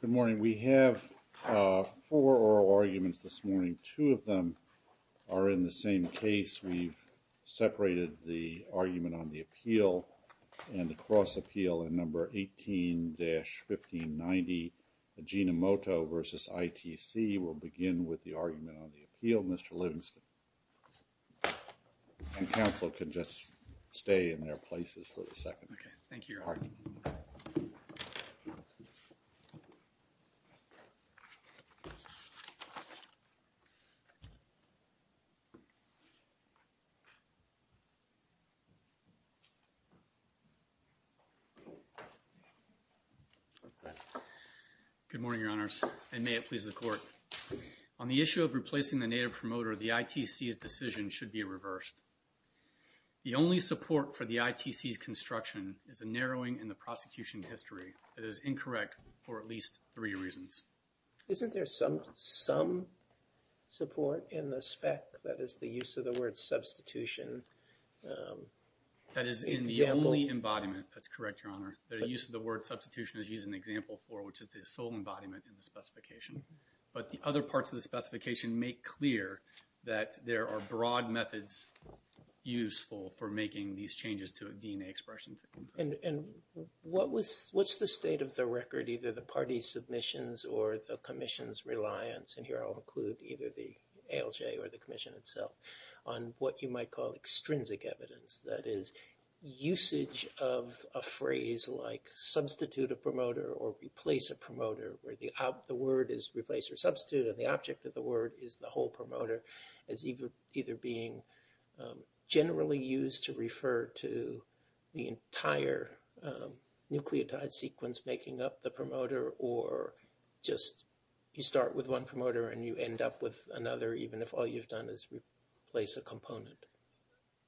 Good morning. We have four oral arguments this morning. Two of them are in the same case. We've separated the argument on the appeal and the cross-appeal in No. 18-1590, Ajinomoto v. ITC. We'll begin with the argument on the appeal. Mr. Livingston. And counsel can just stay in their places for a second. Okay. Thank you, Your Honor. Good morning, Your Honors, and may it please the Court. On the issue of replacing the native promoter, the ITC's decision should be reversed. The only support for the ITC's construction is a narrowing in the prosecution history that is incorrect for at least three reasons. Isn't there some support in the spec that is the use of the word substitution? That is in the only embodiment. That's correct, Your Honor. The use of the word substitution is used in example four, which is the sole embodiment in the specification. But the other parts of the specification make clear that there are broad methods useful for making these changes to a DNA expression. And what's the state of the record, either the party's submissions or the commission's reliance, and here I'll include either the ALJ or the commission itself, on what you might call extrinsic evidence, that is usage of a phrase like substitute a promoter or replace a promoter, where the word is replace or substitute and the object of the word is the whole promoter, as either being generally used to refer to the entire nucleotide sequence making up the promoter or just you start with one promoter and you end up with another, even if all you've done is replace a component.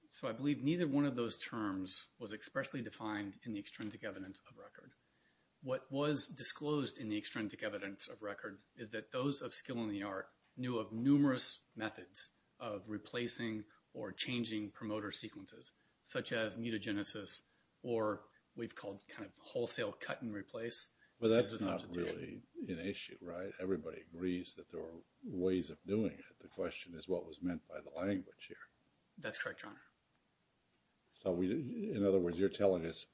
So I believe neither one of those terms was expressly defined in the extrinsic evidence of record. What was disclosed in the extrinsic evidence of record is that those of skill in the art knew of numerous methods of replacing or changing promoter sequences, such as mutagenesis or we've called kind of wholesale cut and replace. Well, that's not really an issue, right? Everybody agrees that there are ways of doing it. The question is what was meant by the language here. That's correct, Your Honor. So in other words, you're telling us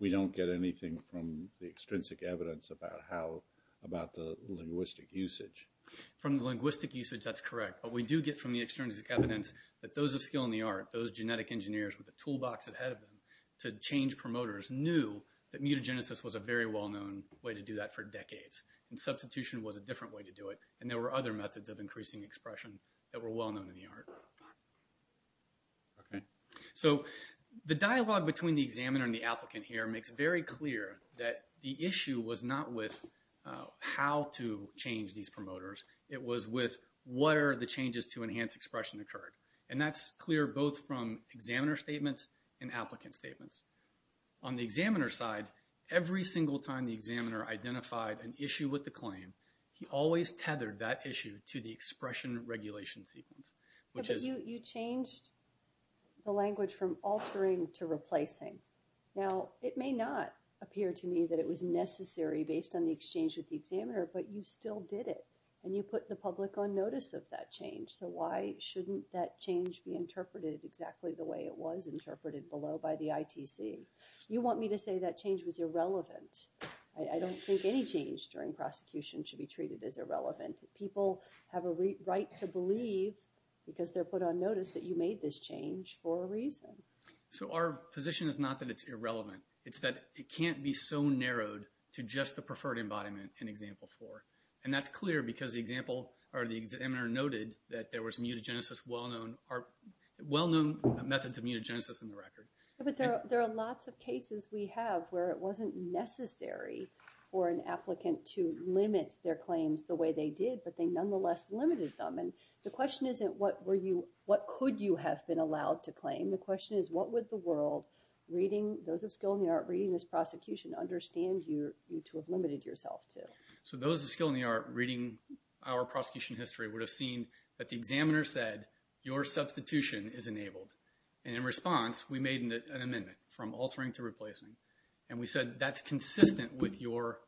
we don't get anything from the extrinsic evidence about the linguistic usage. From the linguistic usage, that's correct, but we do get from the extrinsic evidence that those of skill in the art, those genetic engineers with the toolbox ahead of them to change promoters knew that mutagenesis was a very well-known way to do that for decades and substitution was a different way to do it and there were other methods of increasing expression that were well-known in the art. Okay. So the dialogue between the examiner and the applicant here makes very clear that the issue was not with how to change these promoters, it was with what are the changes to enhance expression occurred and that's clear both from examiner statements and applicant statements. On the examiner side, every single time the examiner identified an issue with the claim, he always tethered that issue to the expression regulation sequence, which is... But you changed the language from altering to replacing. Now, it may not appear to me that it was necessary based on the exchange with the examiner, but you still did it and you put the public on notice of that change, so why shouldn't that change be interpreted exactly the way it was interpreted below by the ITC? You want me to say that change was irrelevant. I don't think any change during prosecution should be treated as irrelevant. People have a right to believe because they're put on notice that you made this change for a reason. So our position is not that it's irrelevant, it's that it can't be so narrowed to just the preferred embodiment in example four and that's clear because the examiner noted that there was mutagenesis, well-known methods of mutagenesis in the record. But there are lots of cases we have where it wasn't necessary for an applicant to limit their claims the way they did, but they nonetheless limited them. And the question isn't what could you have been allowed to claim? The question is what would the world, those of skill in the art reading this prosecution, understand you to have limited yourself to? So those of skill in the art reading our prosecution history would have seen that the examiner said, your substitution is enabled. And in response, we made an amendment from altering to replacing. And we said that's consistent with your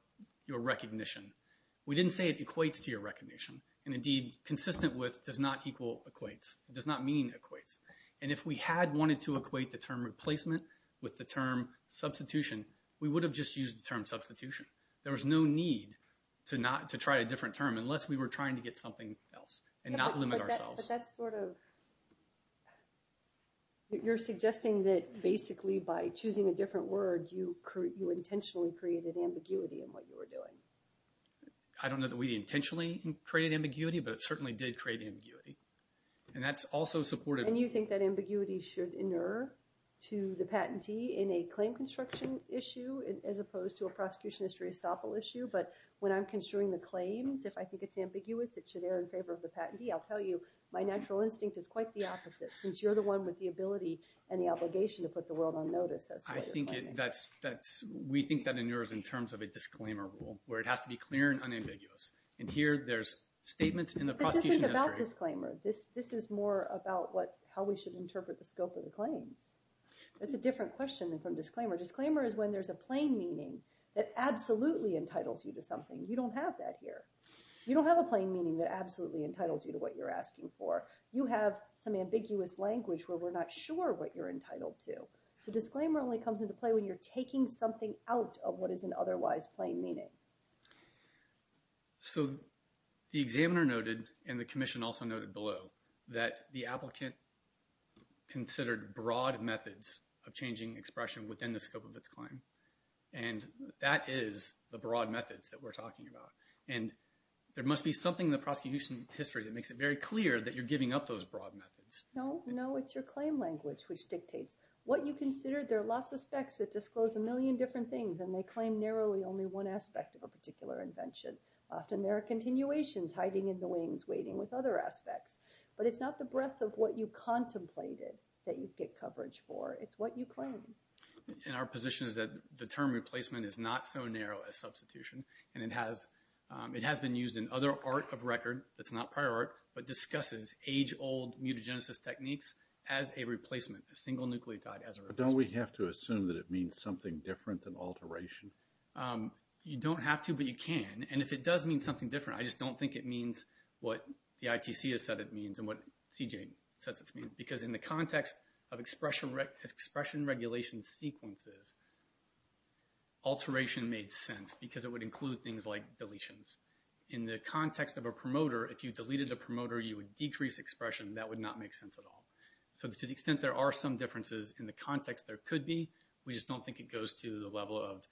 recognition. We didn't say it equates to your recognition. And indeed, consistent with does not equal equates. It does not mean equates. And if we had wanted to equate the term replacement with the term substitution, we would have just used the term substitution. There was no need to try a different term unless we were trying to get something else and not limit ourselves. But that's sort of, you're suggesting that basically by choosing a different word, you intentionally created ambiguity in what you were doing. I don't know that we intentionally created ambiguity, but it certainly did create ambiguity. And that's also supported. And you think that ambiguity should inerr to the patentee in a claim construction issue as opposed to a prosecution history estoppel issue. But when I'm construing the claims, if I think it's ambiguous, it should err in favor of the patentee, I'll tell you my natural instinct is quite the opposite since you're the one with the ability and the obligation to put the world on notice. I think that's, we think that inerrs in terms of a disclaimer rule where it has to be clear and unambiguous. And here there's statements in the prosecution history. This isn't about disclaimer. This is more about how we should interpret the scope of the claims. That's a different question from disclaimer. Disclaimer is when there's a plain meaning that absolutely entitles you to something. You don't have that here. You don't have a plain meaning that absolutely entitles you to what you're asking for. You have some ambiguous language where we're not sure what you're entitled to. So disclaimer only comes into play when you're taking something out of what is an otherwise plain meaning. So the examiner noted, and the commission also noted below, that the applicant considered broad methods of changing expression within the scope of its claim. And that is the broad methods that we're talking about. And there must be something in the prosecution history that makes it very clear that you're giving up those broad methods. No, no, it's your claim language which dictates what you considered. There are lots of specs that disclose a million different things and they claim narrowly only one aspect of a particular invention. Often there are continuations, hiding in the wings, waiting with other aspects. But it's not the breadth of what you contemplated that you get coverage for. It's what you claim. And our position is that the term replacement is not so narrow a substitution and it has been used in other art of record that's not prior art, but discusses age-old mutagenesis techniques as a replacement, a single nucleotide as a replacement. But don't we have to assume that it means something different than alteration? You don't have to, but you can. And if it does mean something different, I just don't think it means what the ITC has said it means and what CJ says it means. Because in the context of expression regulation sequences, alteration made sense because it would include things like deletions. In the context of a promoter, if you deleted a promoter, you would decrease expression and that would not make sense at all. So to the extent there are some differences in the context there could be, we just don't think it goes to the level of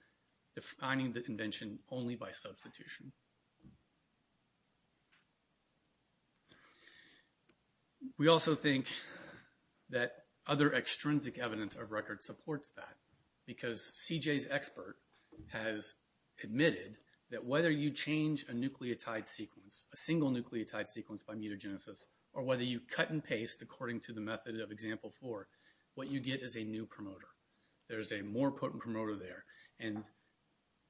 defining the invention only by substitution. We also think that other extrinsic evidence of record supports that because CJ's expert has admitted that whether you change a nucleotide sequence, a single nucleotide sequence by mutagenesis, or whether you cut and paste according to the method of example four, what you get is a new promoter. There's a more potent promoter there. And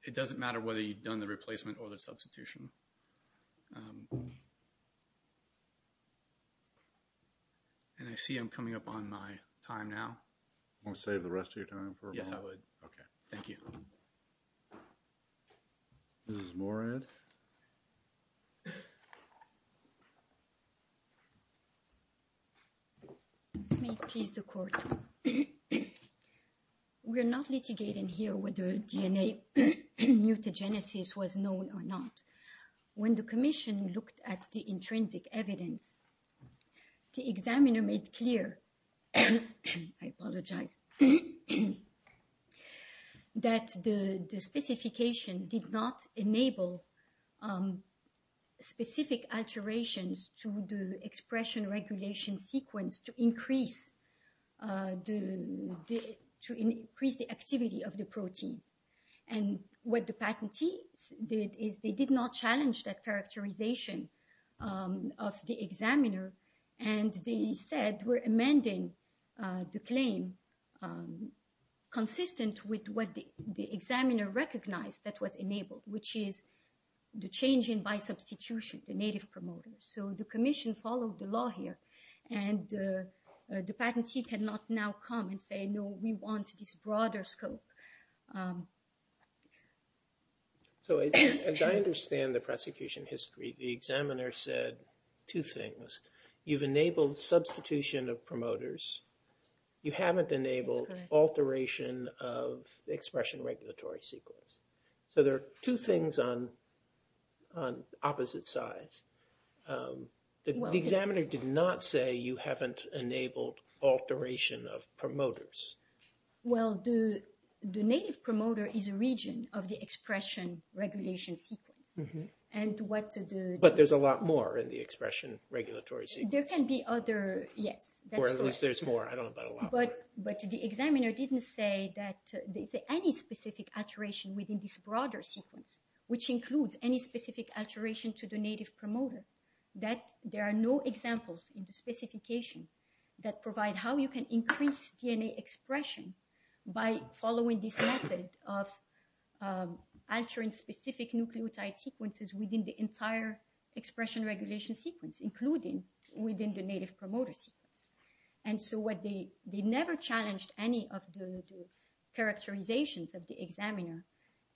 it doesn't matter whether you've done the replacement or the substitution. And I see I'm coming up on my time now. Want to save the rest of your time for a moment? Yes, I would. Okay, thank you. Mrs. Morad? May it please the court. We are not litigating here whether DNA mutagenesis was known or not. When the commission looked at the intrinsic evidence, the examiner made clear, I apologize, that the specification did not enable specific alterations to the expression regulation sequence to increase the activity of the protein. And what the patentee did is they did not challenge that characterization of the examiner. And they said we're amending the claim consistent with what the examiner recognized that was enabled, which is the change in by substitution, the native promoter. So the commission followed the law here. And the patentee cannot now come and say, no, we want this broader scope. So as I understand the prosecution history, the examiner said two things. You've enabled substitution of promoters. You haven't enabled alteration of the expression regulatory sequence. So there are two things on opposite sides. The examiner did not say you haven't enabled alteration of promoters. Well, the native promoter is a region of the expression regulation sequence. But there's a lot more in the expression regulatory sequence. There can be other, yes. Or at least there's more. I don't know about a lot more. But the examiner didn't say that any specific alteration within this broader sequence, which includes any specific alteration to the native promoter, that there are no examples in the specification that provide how you can increase DNA expression by following this method of altering specific nucleotide sequences within the entire expression regulation sequence, including within the native promoter sequence. And so they never challenged any of the characterizations of the examiner.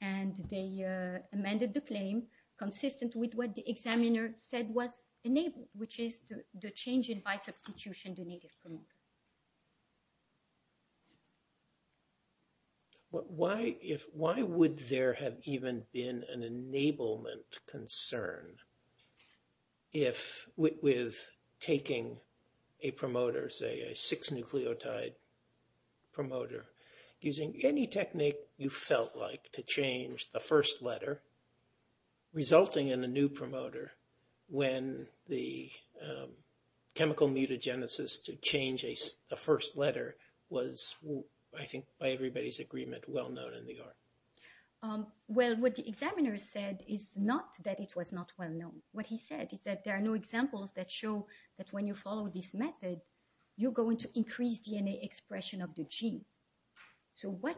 And they amended the claim consistent with what the examiner said was enabled, which is the change in by substitution the native promoter. Why would there have even been an enablement concern with taking a promoter, say a six-nucleotide promoter, using any technique you felt like to change the first letter, resulting in a new promoter when the chemical mutagenesis to change the first letter was, I think, by everybody's agreement, well-known in the art? Well, what the examiner said is not that it was not well-known. What he said is that there are no examples that show that when you follow this method, you're going to increase DNA expression of the gene. So what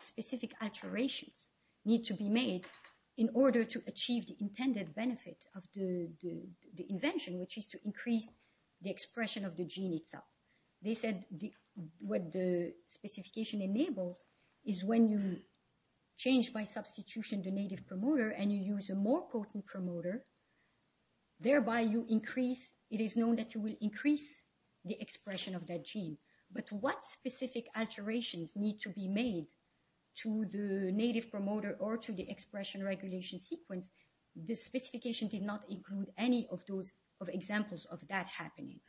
specific alterations need to be made in order to achieve the intended benefit of the invention, which is to increase the expression of the gene itself? They said what the specification enables is when you change by substitution the native promoter and you use a more potent promoter, thereby you increase, it is known that you will increase the expression of that gene. But what specific alterations need to be made to the native promoter or to the expression regulation sequence? The specification did not include any of those examples of that happening.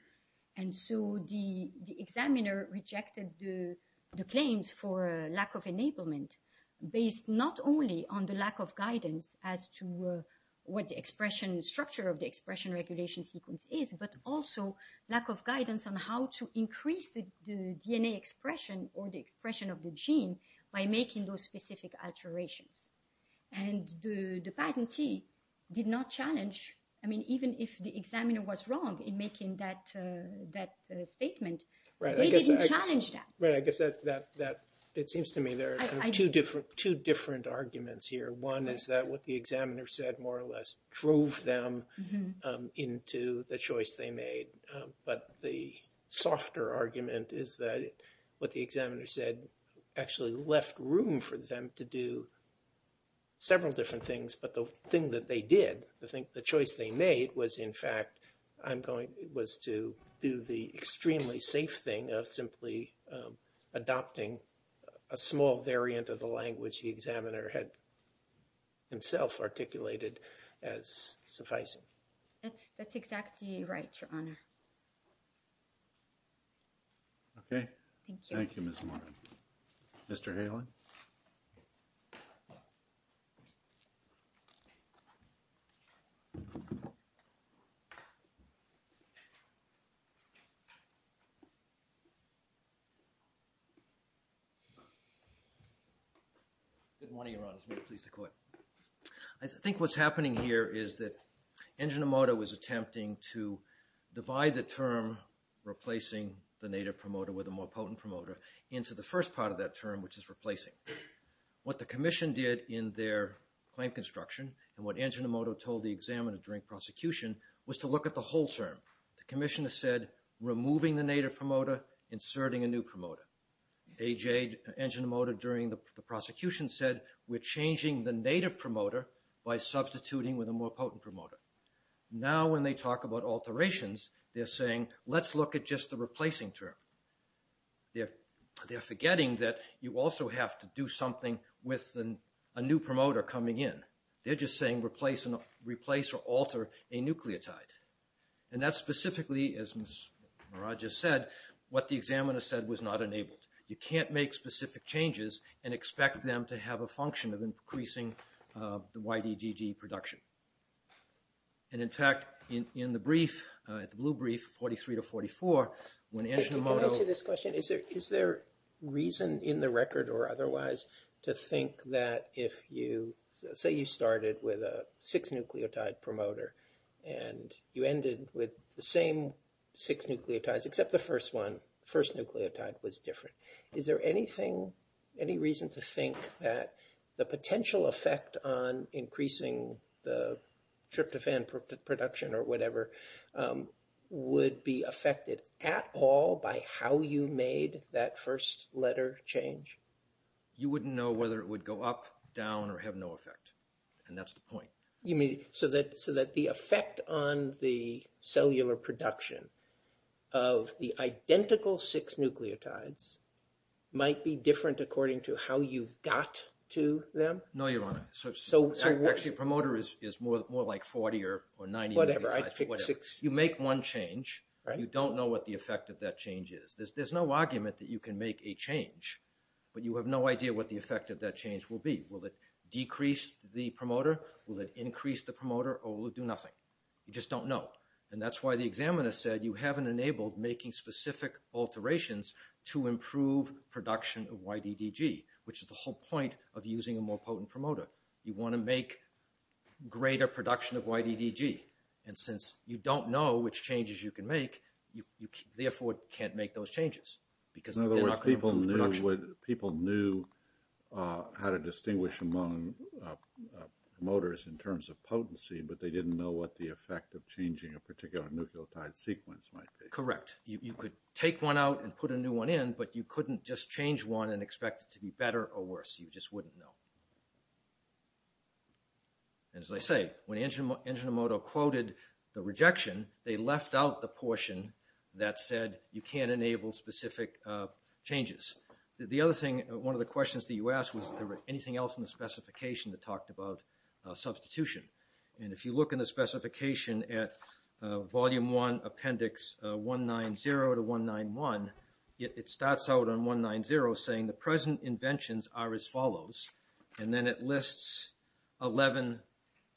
And so the examiner rejected the claims for lack of enablement, based not only on the lack of guidance as to what the expression structure of the expression regulation sequence is, but also lack of guidance on how to increase the DNA expression or the expression of the gene by making those specific alterations. And the patentee did not challenge, I mean, even if the examiner was wrong in making that statement, they didn't challenge that. Right, I guess that seems to me there are two different arguments here. One is that what the examiner said more or less drove them into the choice they made. But the softer argument is that what the examiner said actually left room for them to do several different things. But the thing that they did, the choice they made was, in fact, was to do the extremely safe thing of simply adopting a small variant of the language the examiner had himself articulated as sufficing. That's exactly right, Your Honor. Thank you. Thank you, Ms. Martin. Mr. Halen? Good morning, Your Honor. It's a great pleasure to be here. I think what's happening here is that Enjinomoto is attempting to divide the term replacing the native promoter with a more potent promoter into the first part of that term, which is replacing. What the commission did in their claim construction and what Enjinomoto told the examiner during prosecution was to look at the whole term. The commissioner said, removing the native promoter, inserting a new promoter. A.J. Enjinomoto during the prosecution said, we're changing the native promoter by substituting with a more potent promoter. Now when they talk about alterations, they're saying, let's look at just the replacing term. They're forgetting that you also have to do something with a new promoter coming in. They're just saying, replace or alter a nucleotide. And that's specifically, as Ms. Maraj has said, what the examiner said was not enabled. You can't make specific changes and expect them to have a function of increasing the YDDG production. And in fact, in the brief, the blue brief, 43 to 44, when Enjinomoto- Can I ask you this question? Is there reason in the record or otherwise to think that if you, say you started with a six nucleotide promoter and you ended with the same six nucleotides, except the first one, the first nucleotide was different. Is there any reason to think that the potential effect on increasing the tryptophan production or whatever would be affected at all by how you made that first letter change? A.J. You wouldn't know whether it would go up, down, or have no effect. And that's the point. You mean so that the effect on the cellular production of the identical six nucleotides might be different according to how you got to them? A.J. No, Your Honor. Actually, promoter is more like 40 or 90 nucleotides. You make one change. You don't know what the effect of that change is. There's no argument that you can make a change. But you have no idea what the effect of that change will be. Will it decrease the promoter? Will it increase the promoter? Or will it do nothing? You just don't know. And that's why the examiner said you haven't enabled making specific alterations to improve production of YDDG, which is the whole point of using a more potent promoter. You want to make greater production of YDDG. And since you don't know which changes you can make, you therefore can't make those changes. In other words, people knew how to distinguish among promoters in terms of potency, but they didn't know what the effect of changing a particular nucleotide sequence might be. A.J. Correct. You could take one out and put a new one in, but you couldn't just change one and expect it to be better or worse. You just wouldn't know. And as I say, when Enjinomoto quoted the rejection, they left out the portion that said you can't enable specific changes. The other thing, one of the questions that you asked was, is there anything else in the specification that talked about substitution? And if you look in the specification at Volume 1, Appendix 190 to 191, it starts out on 190 saying the present inventions are as follows. And then it lists 11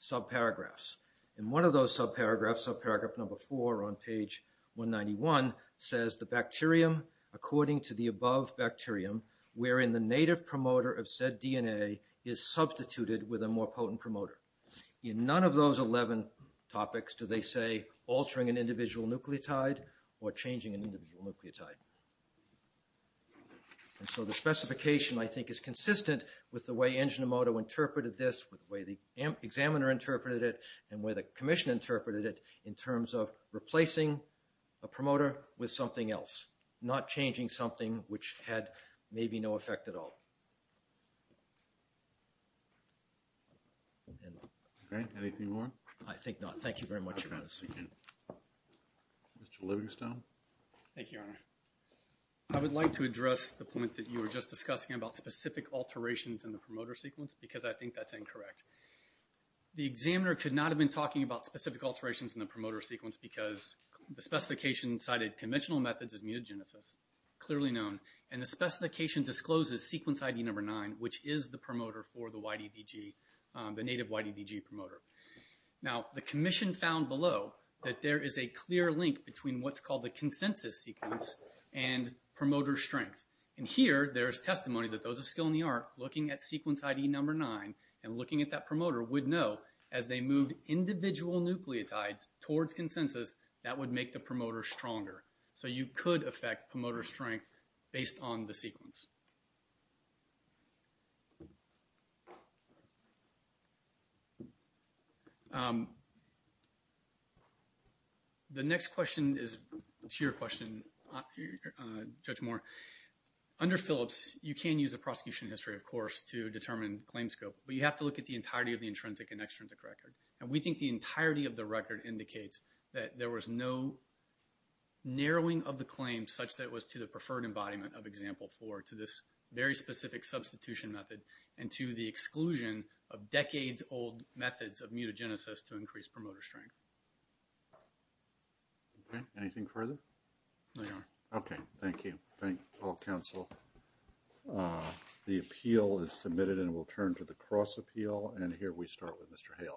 subparagraphs. And one of those subparagraphs, subparagraph number 4 on page 191, says the bacterium, according to the above bacterium, wherein the native promoter of said DNA is substituted with a more potent promoter. In none of those 11 topics do they say altering an individual nucleotide or changing an individual nucleotide. And so the specification, I think, is consistent with the way Enjinomoto interpreted this, with the way the examiner interpreted it, and the way the commission interpreted it, in terms of replacing a promoter with something else, not changing something which had maybe no effect at all. Okay. Anything more? I think not. Thank you very much. Mr. Livingstone? Thank you, Your Honor. I would like to address the point that you were just discussing about specific alterations in the promoter sequence, because I think that's incorrect. The examiner could not have been talking about specific alterations in the promoter sequence because the specification cited conventional methods as mutagenesis, clearly known, and the specification discloses sequence ID number 9, which is the promoter for the YDDG, the native YDDG promoter. Now, the commission found below that there is a clear link between what's called the consensus sequence and promoter strength. And here, there is testimony that those of skill in the art looking at sequence ID number 9 and looking at that promoter would know, as they moved individual nucleotides towards consensus, that would make the promoter stronger. So you could affect promoter strength based on the sequence. Thank you. The next question is to your question, Judge Moore. Under Phillips, you can use the prosecution history, of course, to determine claim scope, but you have to look at the entirety of the intrinsic and extrinsic record. And we think the entirety of the record indicates that there was no narrowing of the claim such that it was to the preferred embodiment of example 4 to this very specific substitution method and to the exclusion of decades-old methods of mutagenesis to increase promoter strength. Okay. Anything further? No, Your Honor. Okay. Thank you. Thank all counsel. The appeal is submitted and we'll turn to the cross appeal. And here we start with Mr. Haley.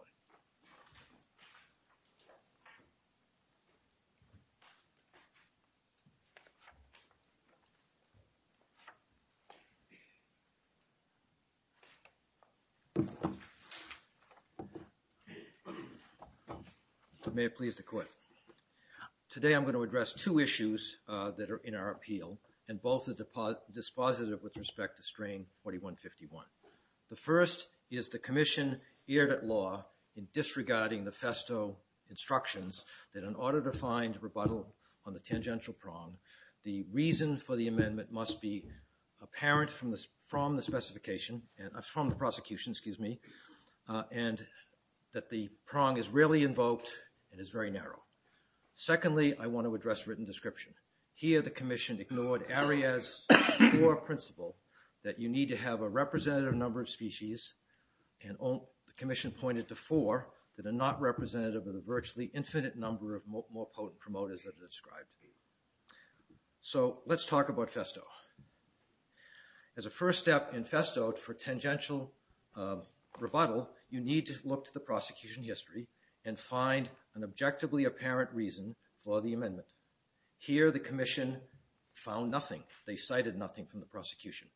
May it please the Court. Today I'm going to address two issues that are in our appeal, and both are dispositive with respect to String 4151. The first is the commission erred at law in disregarding the Festo instructions that in order to find rebuttal on the tangential prong, the reason for the amendment must be apparent from the prosecution and that the prong is rarely invoked and is very narrow. Secondly, I want to address written description. Here the commission ignored Arias' core principle that you need to have a representative number of species, and the commission pointed to four that are not representative of the virtually infinite number of more potent promoters that are described. So let's talk about Festo. As a first step in Festo for tangential rebuttal, you need to look to the prosecution history and find an objectively apparent reason for the amendment. Here the commission found nothing. They cited nothing from the prosecution.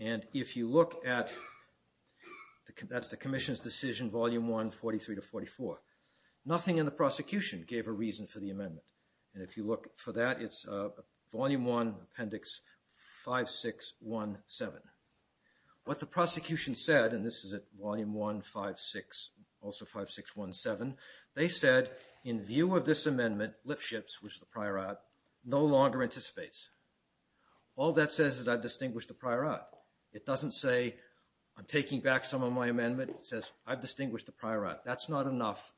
And if you look at the commission's decision, Volume 1, 43 to 44, nothing in the prosecution gave a reason for the amendment. And if you look for that, it's Volume 1, Appendix 5617. What the prosecution said, and this is at Volume 1, 56, also 5617, they said, in view of this amendment, Lipschitz, which is the prior act, no longer anticipates. All that says is I've distinguished the prior act. It doesn't say I'm taking back some of my amendment. It says I've distinguished the prior act. That's not enough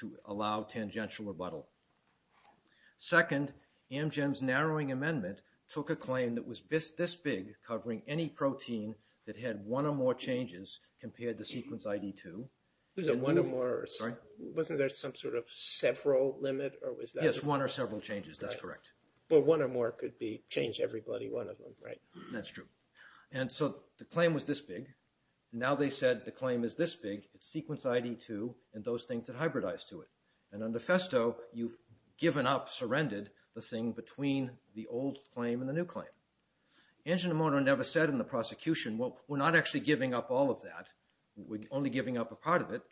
to allow tangential rebuttal. Second, Amgen's narrowing amendment took a claim that was this big, covering any protein that had one or more changes compared to sequence ID2. One or more. Wasn't there some sort of several limit? Yes, one or several changes. That's correct. But one or more could change everybody, one of them, right? That's true. And so the claim was this big. Now they said the claim is this big. It's sequence ID2 and those things that hybridize to it. And on the Festo, you've given up, surrendered, the thing between the old claim and the new claim. Angiomoto never said in the prosecution, well, we're not actually giving up all of that. We're only giving up a part of it.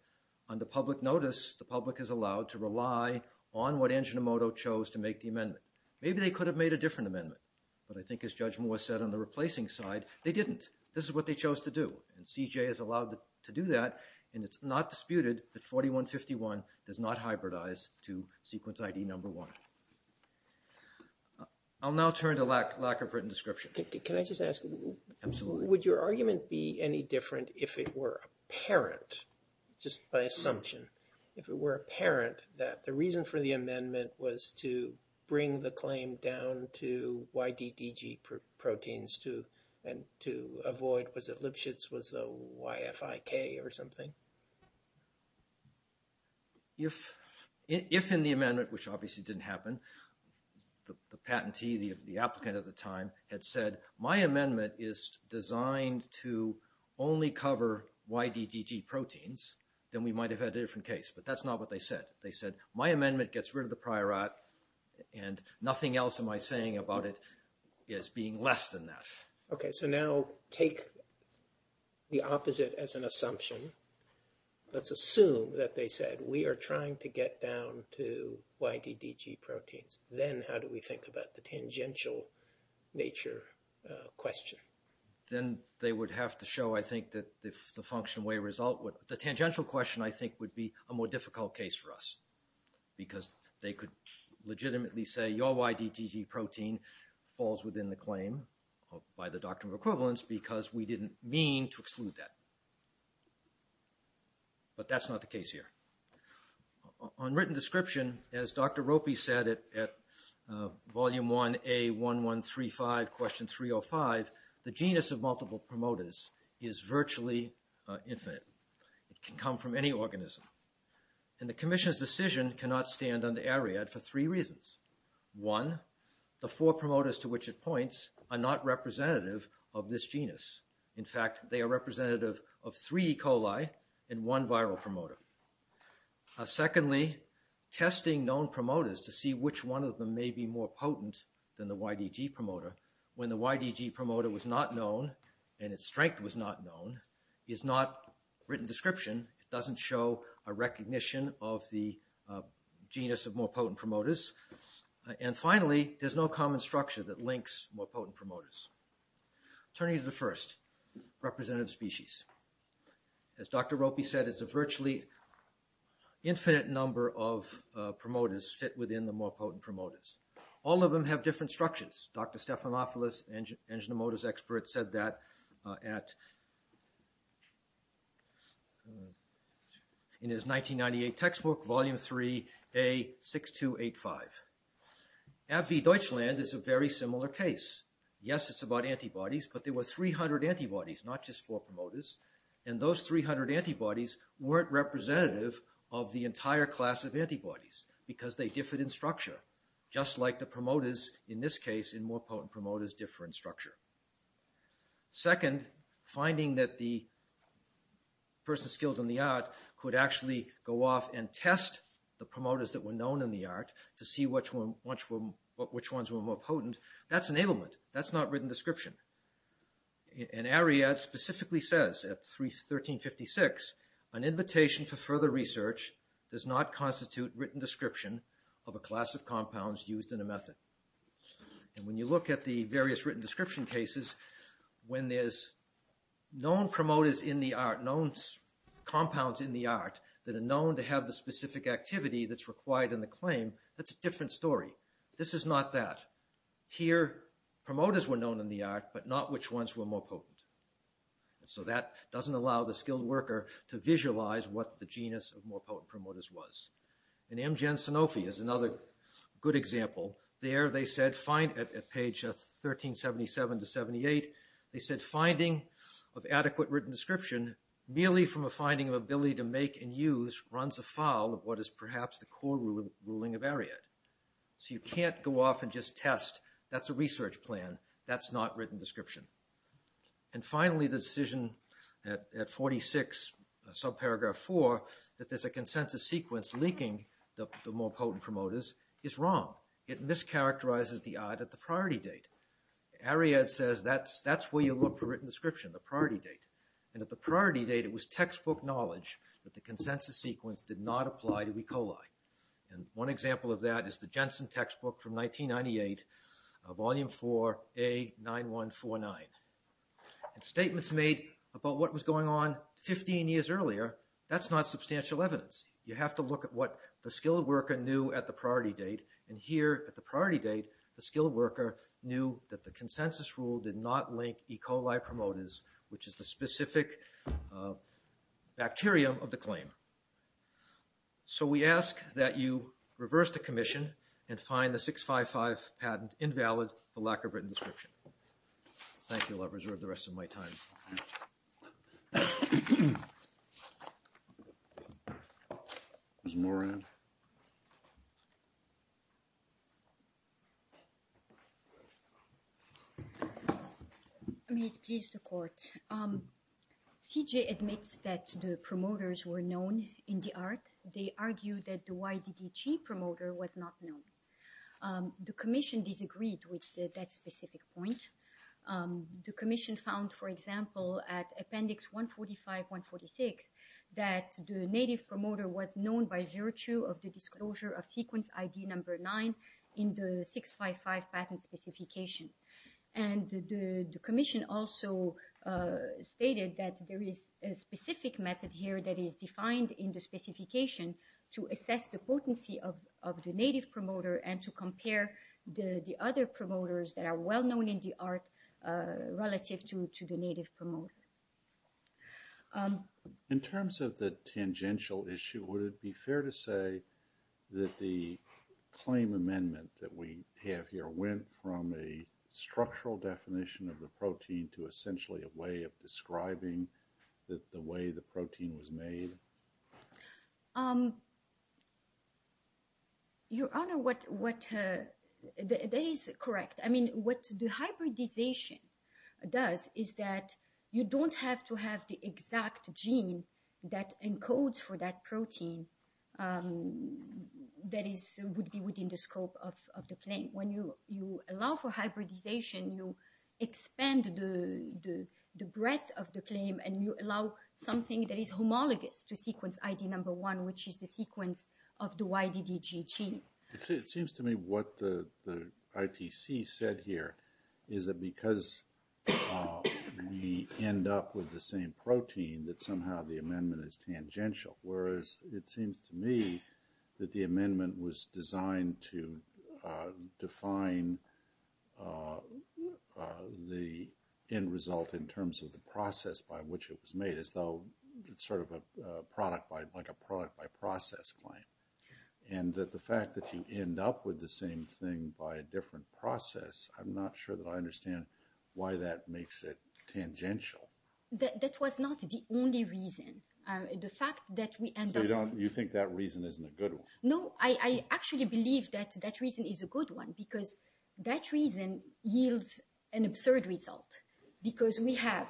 Under public notice, the public is allowed to rely on what Angiomoto chose to make the amendment. Maybe they could have made a different amendment, but I think as Judge Moore said on the replacing side, they didn't. This is what they chose to do. And CJ is allowed to do that. And it's not disputed that 4151 does not hybridize to sequence ID1. I'll now turn to lack of written description. Can I just ask? Absolutely. Would your argument be any different if it were apparent, just by assumption, if it were apparent that the reason for the amendment was to bring the claim down to YDDG proteins and to avoid, was it Lipschitz, was it YFIK or something? If in the amendment, which obviously didn't happen, the patentee, the applicant at the time had said, my amendment is designed to only cover YDDG proteins, then we might have had a different case. But that's not what they said. They said, my amendment gets rid of the prior art and nothing else am I saying about it as being less than that. Okay. So now take the opposite as an assumption. Let's assume that they said, we are trying to get down to YDDG proteins. Then how do we think about the tangential nature question? Then they would have to show, I think, that the function way result would, the tangential question, I think, would be a more difficult case for us because they could legitimately say, your YDDG protein falls within the claim by the doctrine of equivalence because we didn't mean to exclude that. But that's not the case here. On written description, as Dr. Ropey said at volume 1A1135 question 305, the genus of multiple promoters is virtually infinite. It can come from any organism. And the commission's decision cannot stand under AREAD for three reasons. One, the four promoters to which it points are not representative of this genus. In fact, they are representative of three E. coli and one viral promoter. Secondly, testing known promoters to see which one of them may be more potent than the YDDG promoter when the YDDG promoter was not known and its strength was not known is not written description. It doesn't show a recognition of the genus of more potent promoters. And finally, there's no common structure that links more potent promoters. Turning to the first, representative species. As Dr. Ropey said, it's a virtually infinite number of promoters fit within the more potent promoters. All of them have different structures. Dr. Stephanopoulos, engine and motors expert, said that in his 1998 textbook, volume 3A6285. AVV Deutschland is a very similar case. Yes, it's about antibodies, but there were 300 antibodies, not just four promoters. And those 300 antibodies weren't representative of the entire class of antibodies because they differed in structure, just like the promoters in this case in more potent promoters differ in structure. Second, finding that the person skilled in the art could actually go off and test the promoters that were known in the art to see which ones were more potent, that's an ailment. That's not written description. And Ariad specifically says at 1356, an invitation for further research does not constitute written description of a class of compounds used in a method. And when you look at the various written description cases, when there's known promoters in the art, known compounds in the art, that are known to have the specific activity that's required in the claim, that's a different story. This is not that. Here, promoters were known in the art, but not which ones were more potent. And so that doesn't allow the skilled worker to visualize what the genus of more potent promoters was. And M. Gen. Sanofi is another good example. There they said, at page 1377-78, they said finding of adequate written description merely from a finding of ability to make and use runs afoul of what is perhaps the core ruling of Ariad. So you can't go off and just test, that's a research plan, that's not written description. And finally, the decision at 46, subparagraph 4, that there's a consensus sequence leaking the more potent promoters is wrong. It mischaracterizes the art at the priority date. Ariad says that's where you look for written description, the priority date. And at the priority date, it was textbook knowledge that the consensus sequence did not apply to E. coli. And one example of that is the Jensen textbook from 1998, volume 4, A. 9149. Statements made about what was going on 15 years earlier, that's not substantial evidence. You have to look at what the skilled worker knew at the priority date, and here at the priority date, the skilled worker knew that the consensus rule did not link E. coli promoters, which is the specific bacterium of the claim. So we ask that you reverse the commission and find the 655 patent invalid, the lack of written description. Thank you. I'll reserve the rest of my time. May it please the court. CJ admits that the promoters were known in the art. They argue that the YDDG promoter was not known. The commission disagreed with that specific point. The commission found, for example, at appendix 145, 146, that the native promoter was known by virtue of the disclosure of sequence ID number 9 in the 655 patent specification. And the commission also stated that there is a specific method here that is defined in the specification to assess the potency of the native promoter and to compare the other promoters that are well-known in the art relative to the native promoter. In terms of the tangential issue, would it be fair to say that the claim amendment that we have here went from a structural definition of the protein to essentially a way of describing the way the protein was made? Your Honor, that is correct. I mean, what the hybridization does is that you don't have to have the exact gene that encodes for that protein that would be within the scope of the claim. When you allow for hybridization, you expand the breadth of the claim and you allow something that is homologous to sequence ID number 1, which is the sequence of the YDDG gene. It seems to me what the ITC said here is that because we end up with the same protein, that somehow the amendment is tangential. Whereas it seems to me that the amendment was designed to define the end result in terms of the process by which it was made as though it's sort of a product-by-process claim. And that the fact that you end up with the same thing by a different process, I'm not sure that I understand why that makes it tangential. That was not the only reason. So you think that reason isn't a good one? No, I actually believe that that reason is a good one because that reason yields an absurd result because we have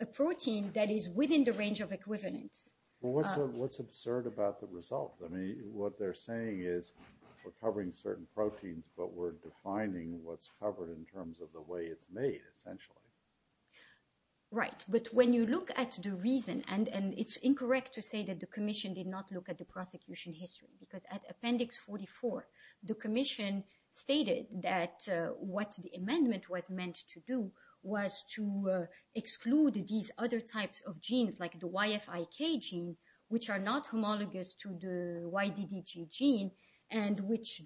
a protein that is within the range of equivalence. Well, what's absurd about the result? I mean, what they're saying is we're covering certain proteins, but we're defining what's covered in terms of the way it's made, essentially. Right. But when you look at the reason, and it's incorrect to say that the Commission did not look at the prosecution history because at Appendix 44, the Commission stated that what the amendment was meant to do was to exclude these other types of genes like the YFIK gene, which are not homologous to the YDDG gene and which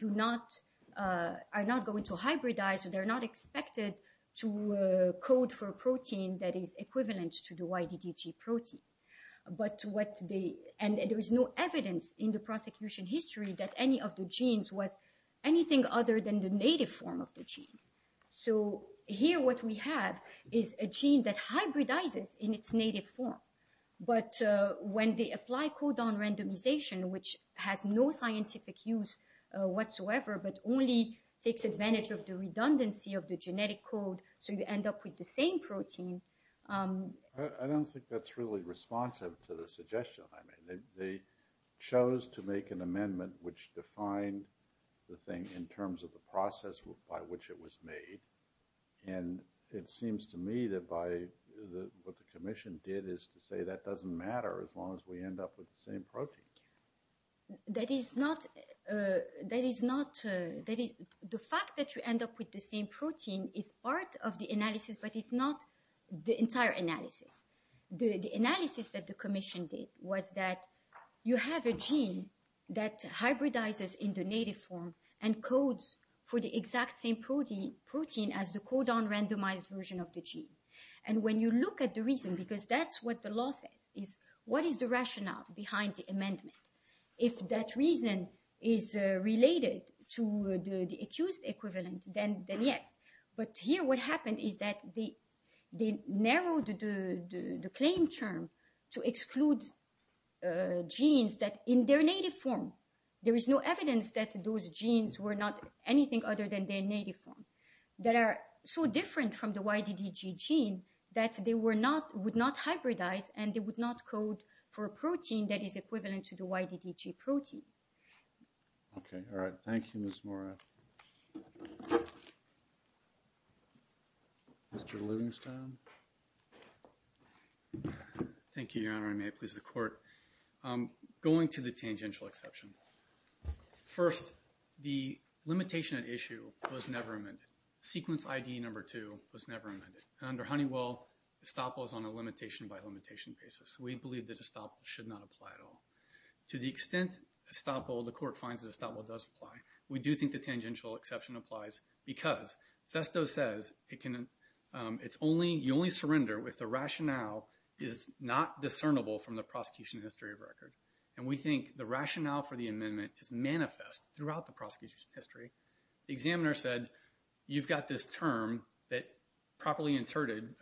are not going to hybridize, so they're not expected to code for a protein that is equivalent to the YDDG protein. And there is no evidence in the prosecution history that any of the genes was anything other than the native form of the gene. So here what we have is a gene that hybridizes in its native form. But when they apply codon randomization, which has no scientific use whatsoever but only takes advantage of the redundancy of the genetic code, so you end up with the same protein. I don't think that's really responsive to the suggestion I made. They chose to make an amendment which defined the thing in terms of the process by which it was made. And it seems to me that what the Commission did is to say that doesn't matter as long as we end up with the same protein. That is not... The fact that you end up with the same protein is part of the analysis, but it's not the entire analysis. The analysis that the Commission did was that you have a gene that hybridizes in the native form and codes for the exact same protein as the codon randomized version of the gene. And when you look at the reason, because that's what the law says, is what is the rationale behind the amendment? If that reason is related to the accused equivalent, then yes. But here what happened is that they narrowed the claim term to exclude genes that, in their native form, there is no evidence that those genes were not anything other than their native form, that are so different from the YDDG gene that they would not hybridize and they would not code for a protein that is equivalent to the YDDG protein. Okay. All right. Thank you, Ms. Mora. Mr. Livingstone? Thank you, Your Honor. May it please the Court. Going to the tangential exception. First, the limitation at issue was never amended. Sequence ID number two was never amended. Under Honeywell, estoppel is on a limitation by limitation basis. We believe that estoppel should not apply at all. To the extent estoppel, the Court finds that estoppel does apply, we do think the tangential exception applies because Festo says you only surrender if the rationale is not discernible from the prosecution history of record. And we think the rationale for the amendment is manifest throughout the prosecution history. The examiner said, you've got this term that properly interpreted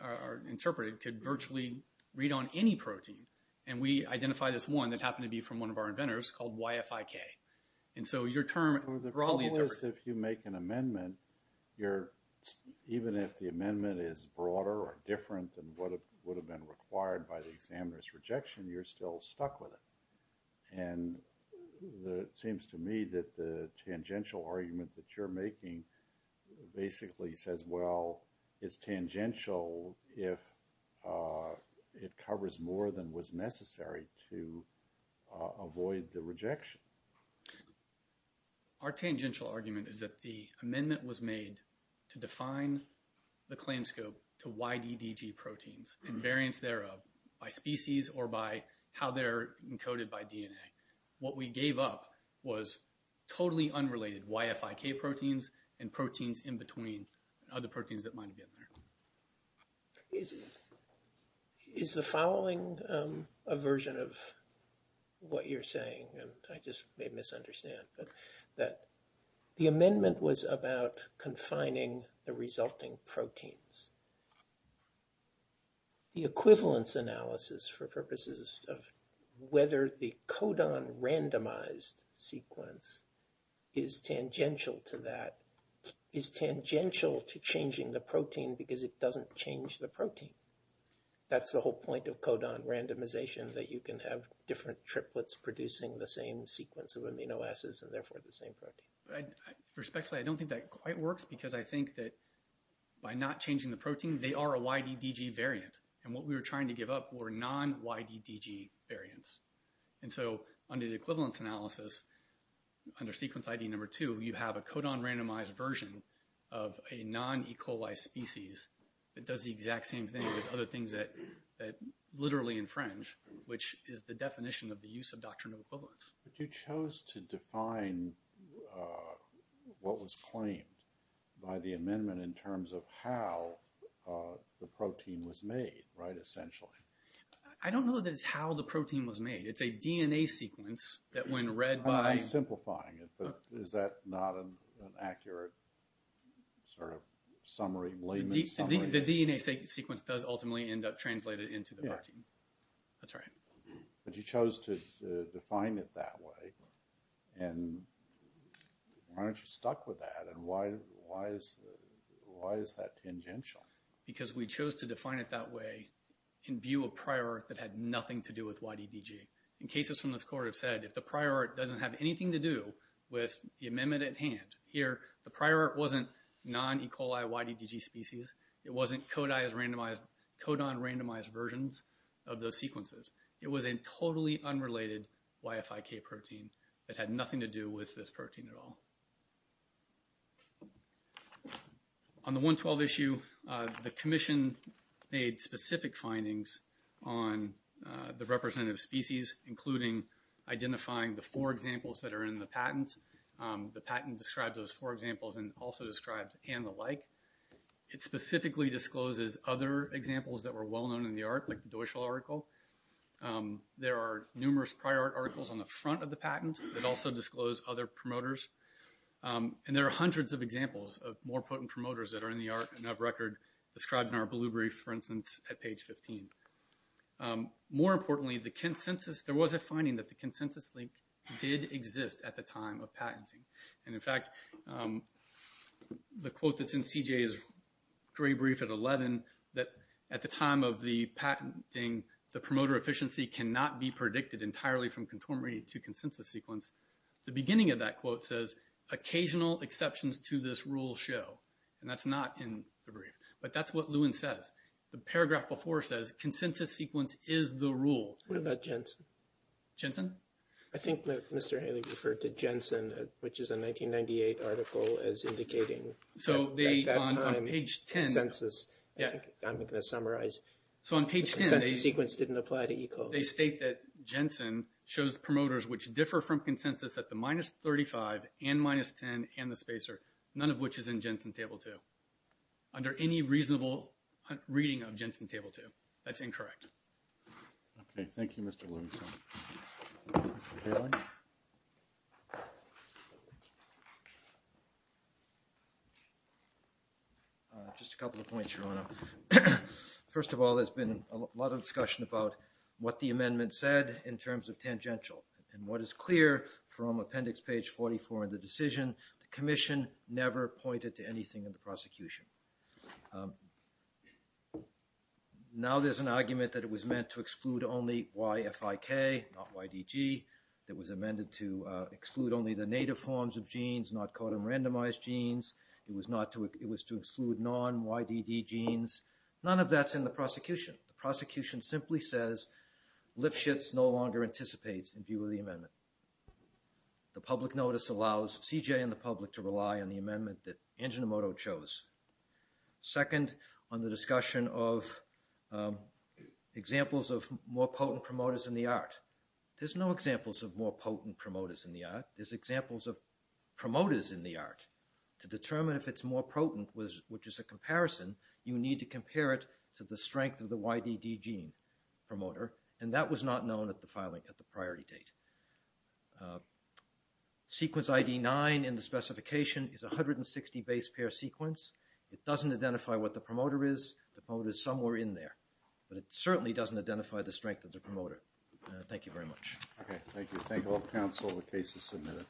could virtually read on any protein. And we identify this one that happened to be from one of our inventors called YFIK. And so your term... The problem is if you make an amendment, even if the amendment is broader or different than what would have been required by the examiner's rejection, you're still stuck with it. And it seems to me that the tangential argument that you're making basically says, well, it's tangential if it covers more than was necessary to avoid the rejection. Our tangential argument is that the amendment was made to define the claim scope to YDDG proteins and variants thereof by species or by how they're encoded by DNA. What we gave up was totally unrelated YFIK proteins and proteins in between other proteins that might have been there. Is the following a version of what you're saying? I just may misunderstand. The amendment was about confining the resulting proteins. The equivalence analysis for purposes of whether the codon randomized sequence is tangential to that is tangential to changing the protein because it doesn't change the protein. That's the whole point of codon randomization, that you can have different triplets producing the same sequence of amino acids and therefore the same protein. Respectfully, I don't think that quite works because I think that by not changing the protein, they are a YDDG variant. And what we were trying to give up were non-YDDG variants. And so under the equivalence analysis, under sequence ID number 2, you have a codon randomized version of a non-E. coli species that does the exact same thing as other things that literally infringe, which is the definition of the use of doctrinal equivalence. But you chose to define what was claimed by the amendment in terms of how the protein was made, right, essentially. I don't know that it's how the protein was made. It's a DNA sequence that when read by... I'm simplifying it, but is that not an accurate sort of summary, layman's summary? The DNA sequence does ultimately end up translated into the protein. Yeah. That's right. But you chose to define it that way. And why aren't you stuck with that? And why is that tangential? Because we chose to define it that way in view of prior art that had nothing to do with YDDG. In cases from this court have said, if the prior art doesn't have anything to do with the amendment at hand, here the prior art wasn't non-E. coli YDDG species. It wasn't codon randomized versions of those sequences. It was a totally unrelated YFIK protein that had nothing to do with this protein at all. On the 112 issue, the commission made specific findings on the representative species, including identifying the four examples that are in the patent. The patent describes those four examples and also describes and the like. It specifically discloses other examples that were well-known in the art, like the Deutschel article. There are numerous prior art articles on the front of the patent that also disclose other promoters. And there are hundreds of examples of more potent promoters that are in the art and have record described in our blue brief, for instance, at page 15. More importantly, there was a finding that the consensus link did exist at the time of patenting. And in fact, the quote that's in CJ's gray brief at 11, that at the time of the patenting, the promoter efficiency cannot be predicted entirely from conformity to consensus sequence. The beginning of that quote says, occasional exceptions to this rule show. And that's not in the brief. But that's what Lewin says. The paragraph before says, consensus sequence is the rule. What about Jensen? Jensen? I think Mr. Haley referred to Jensen, which is a 1998 article as indicating. So on page 10. I'm going to summarize. So on page 10. Consensus sequence didn't apply to ECO. They state that Jensen shows promoters which differ from consensus at the minus 35 and minus 10 and the spacer, none of which is in Jensen table 2. Under any reasonable reading of Jensen table 2. That's incorrect. Okay. Thank you, Mr. Lewin. Mr. Haley? Just a couple of points, Your Honor. First of all, there's been a lot of discussion about what the amendment said in terms of tangential. And what is clear from appendix page 44 in the decision, the commission never pointed to anything in the prosecution. Now there's an argument that it was meant to exclude only YFIK, not YDG. It was amended to exclude only the native forms of genes, not codon randomized genes. It was to exclude non-YDD genes. None of that's in the prosecution. The prosecution simply says Lipschitz no longer anticipates in view of the amendment. The public notice allows CJ and the public to rely on the amendment that Angiomoto chose. Second, on the discussion of examples of more potent promoters in the art. There's no examples of more potent promoters in the art. There's examples of promoters in the art. To determine if it's more potent, which is a comparison, you need to compare it to the strength of the YDD gene promoter. And that was not known at the filing, at the priority date. Sequence ID 9 in the specification is a 160 base pair sequence. It doesn't identify what the promoter is. The promoter is somewhere in there. But it certainly doesn't identify the strength of the promoter. Thank you very much. Okay, thank you. Thank all counsel. The case is submitted.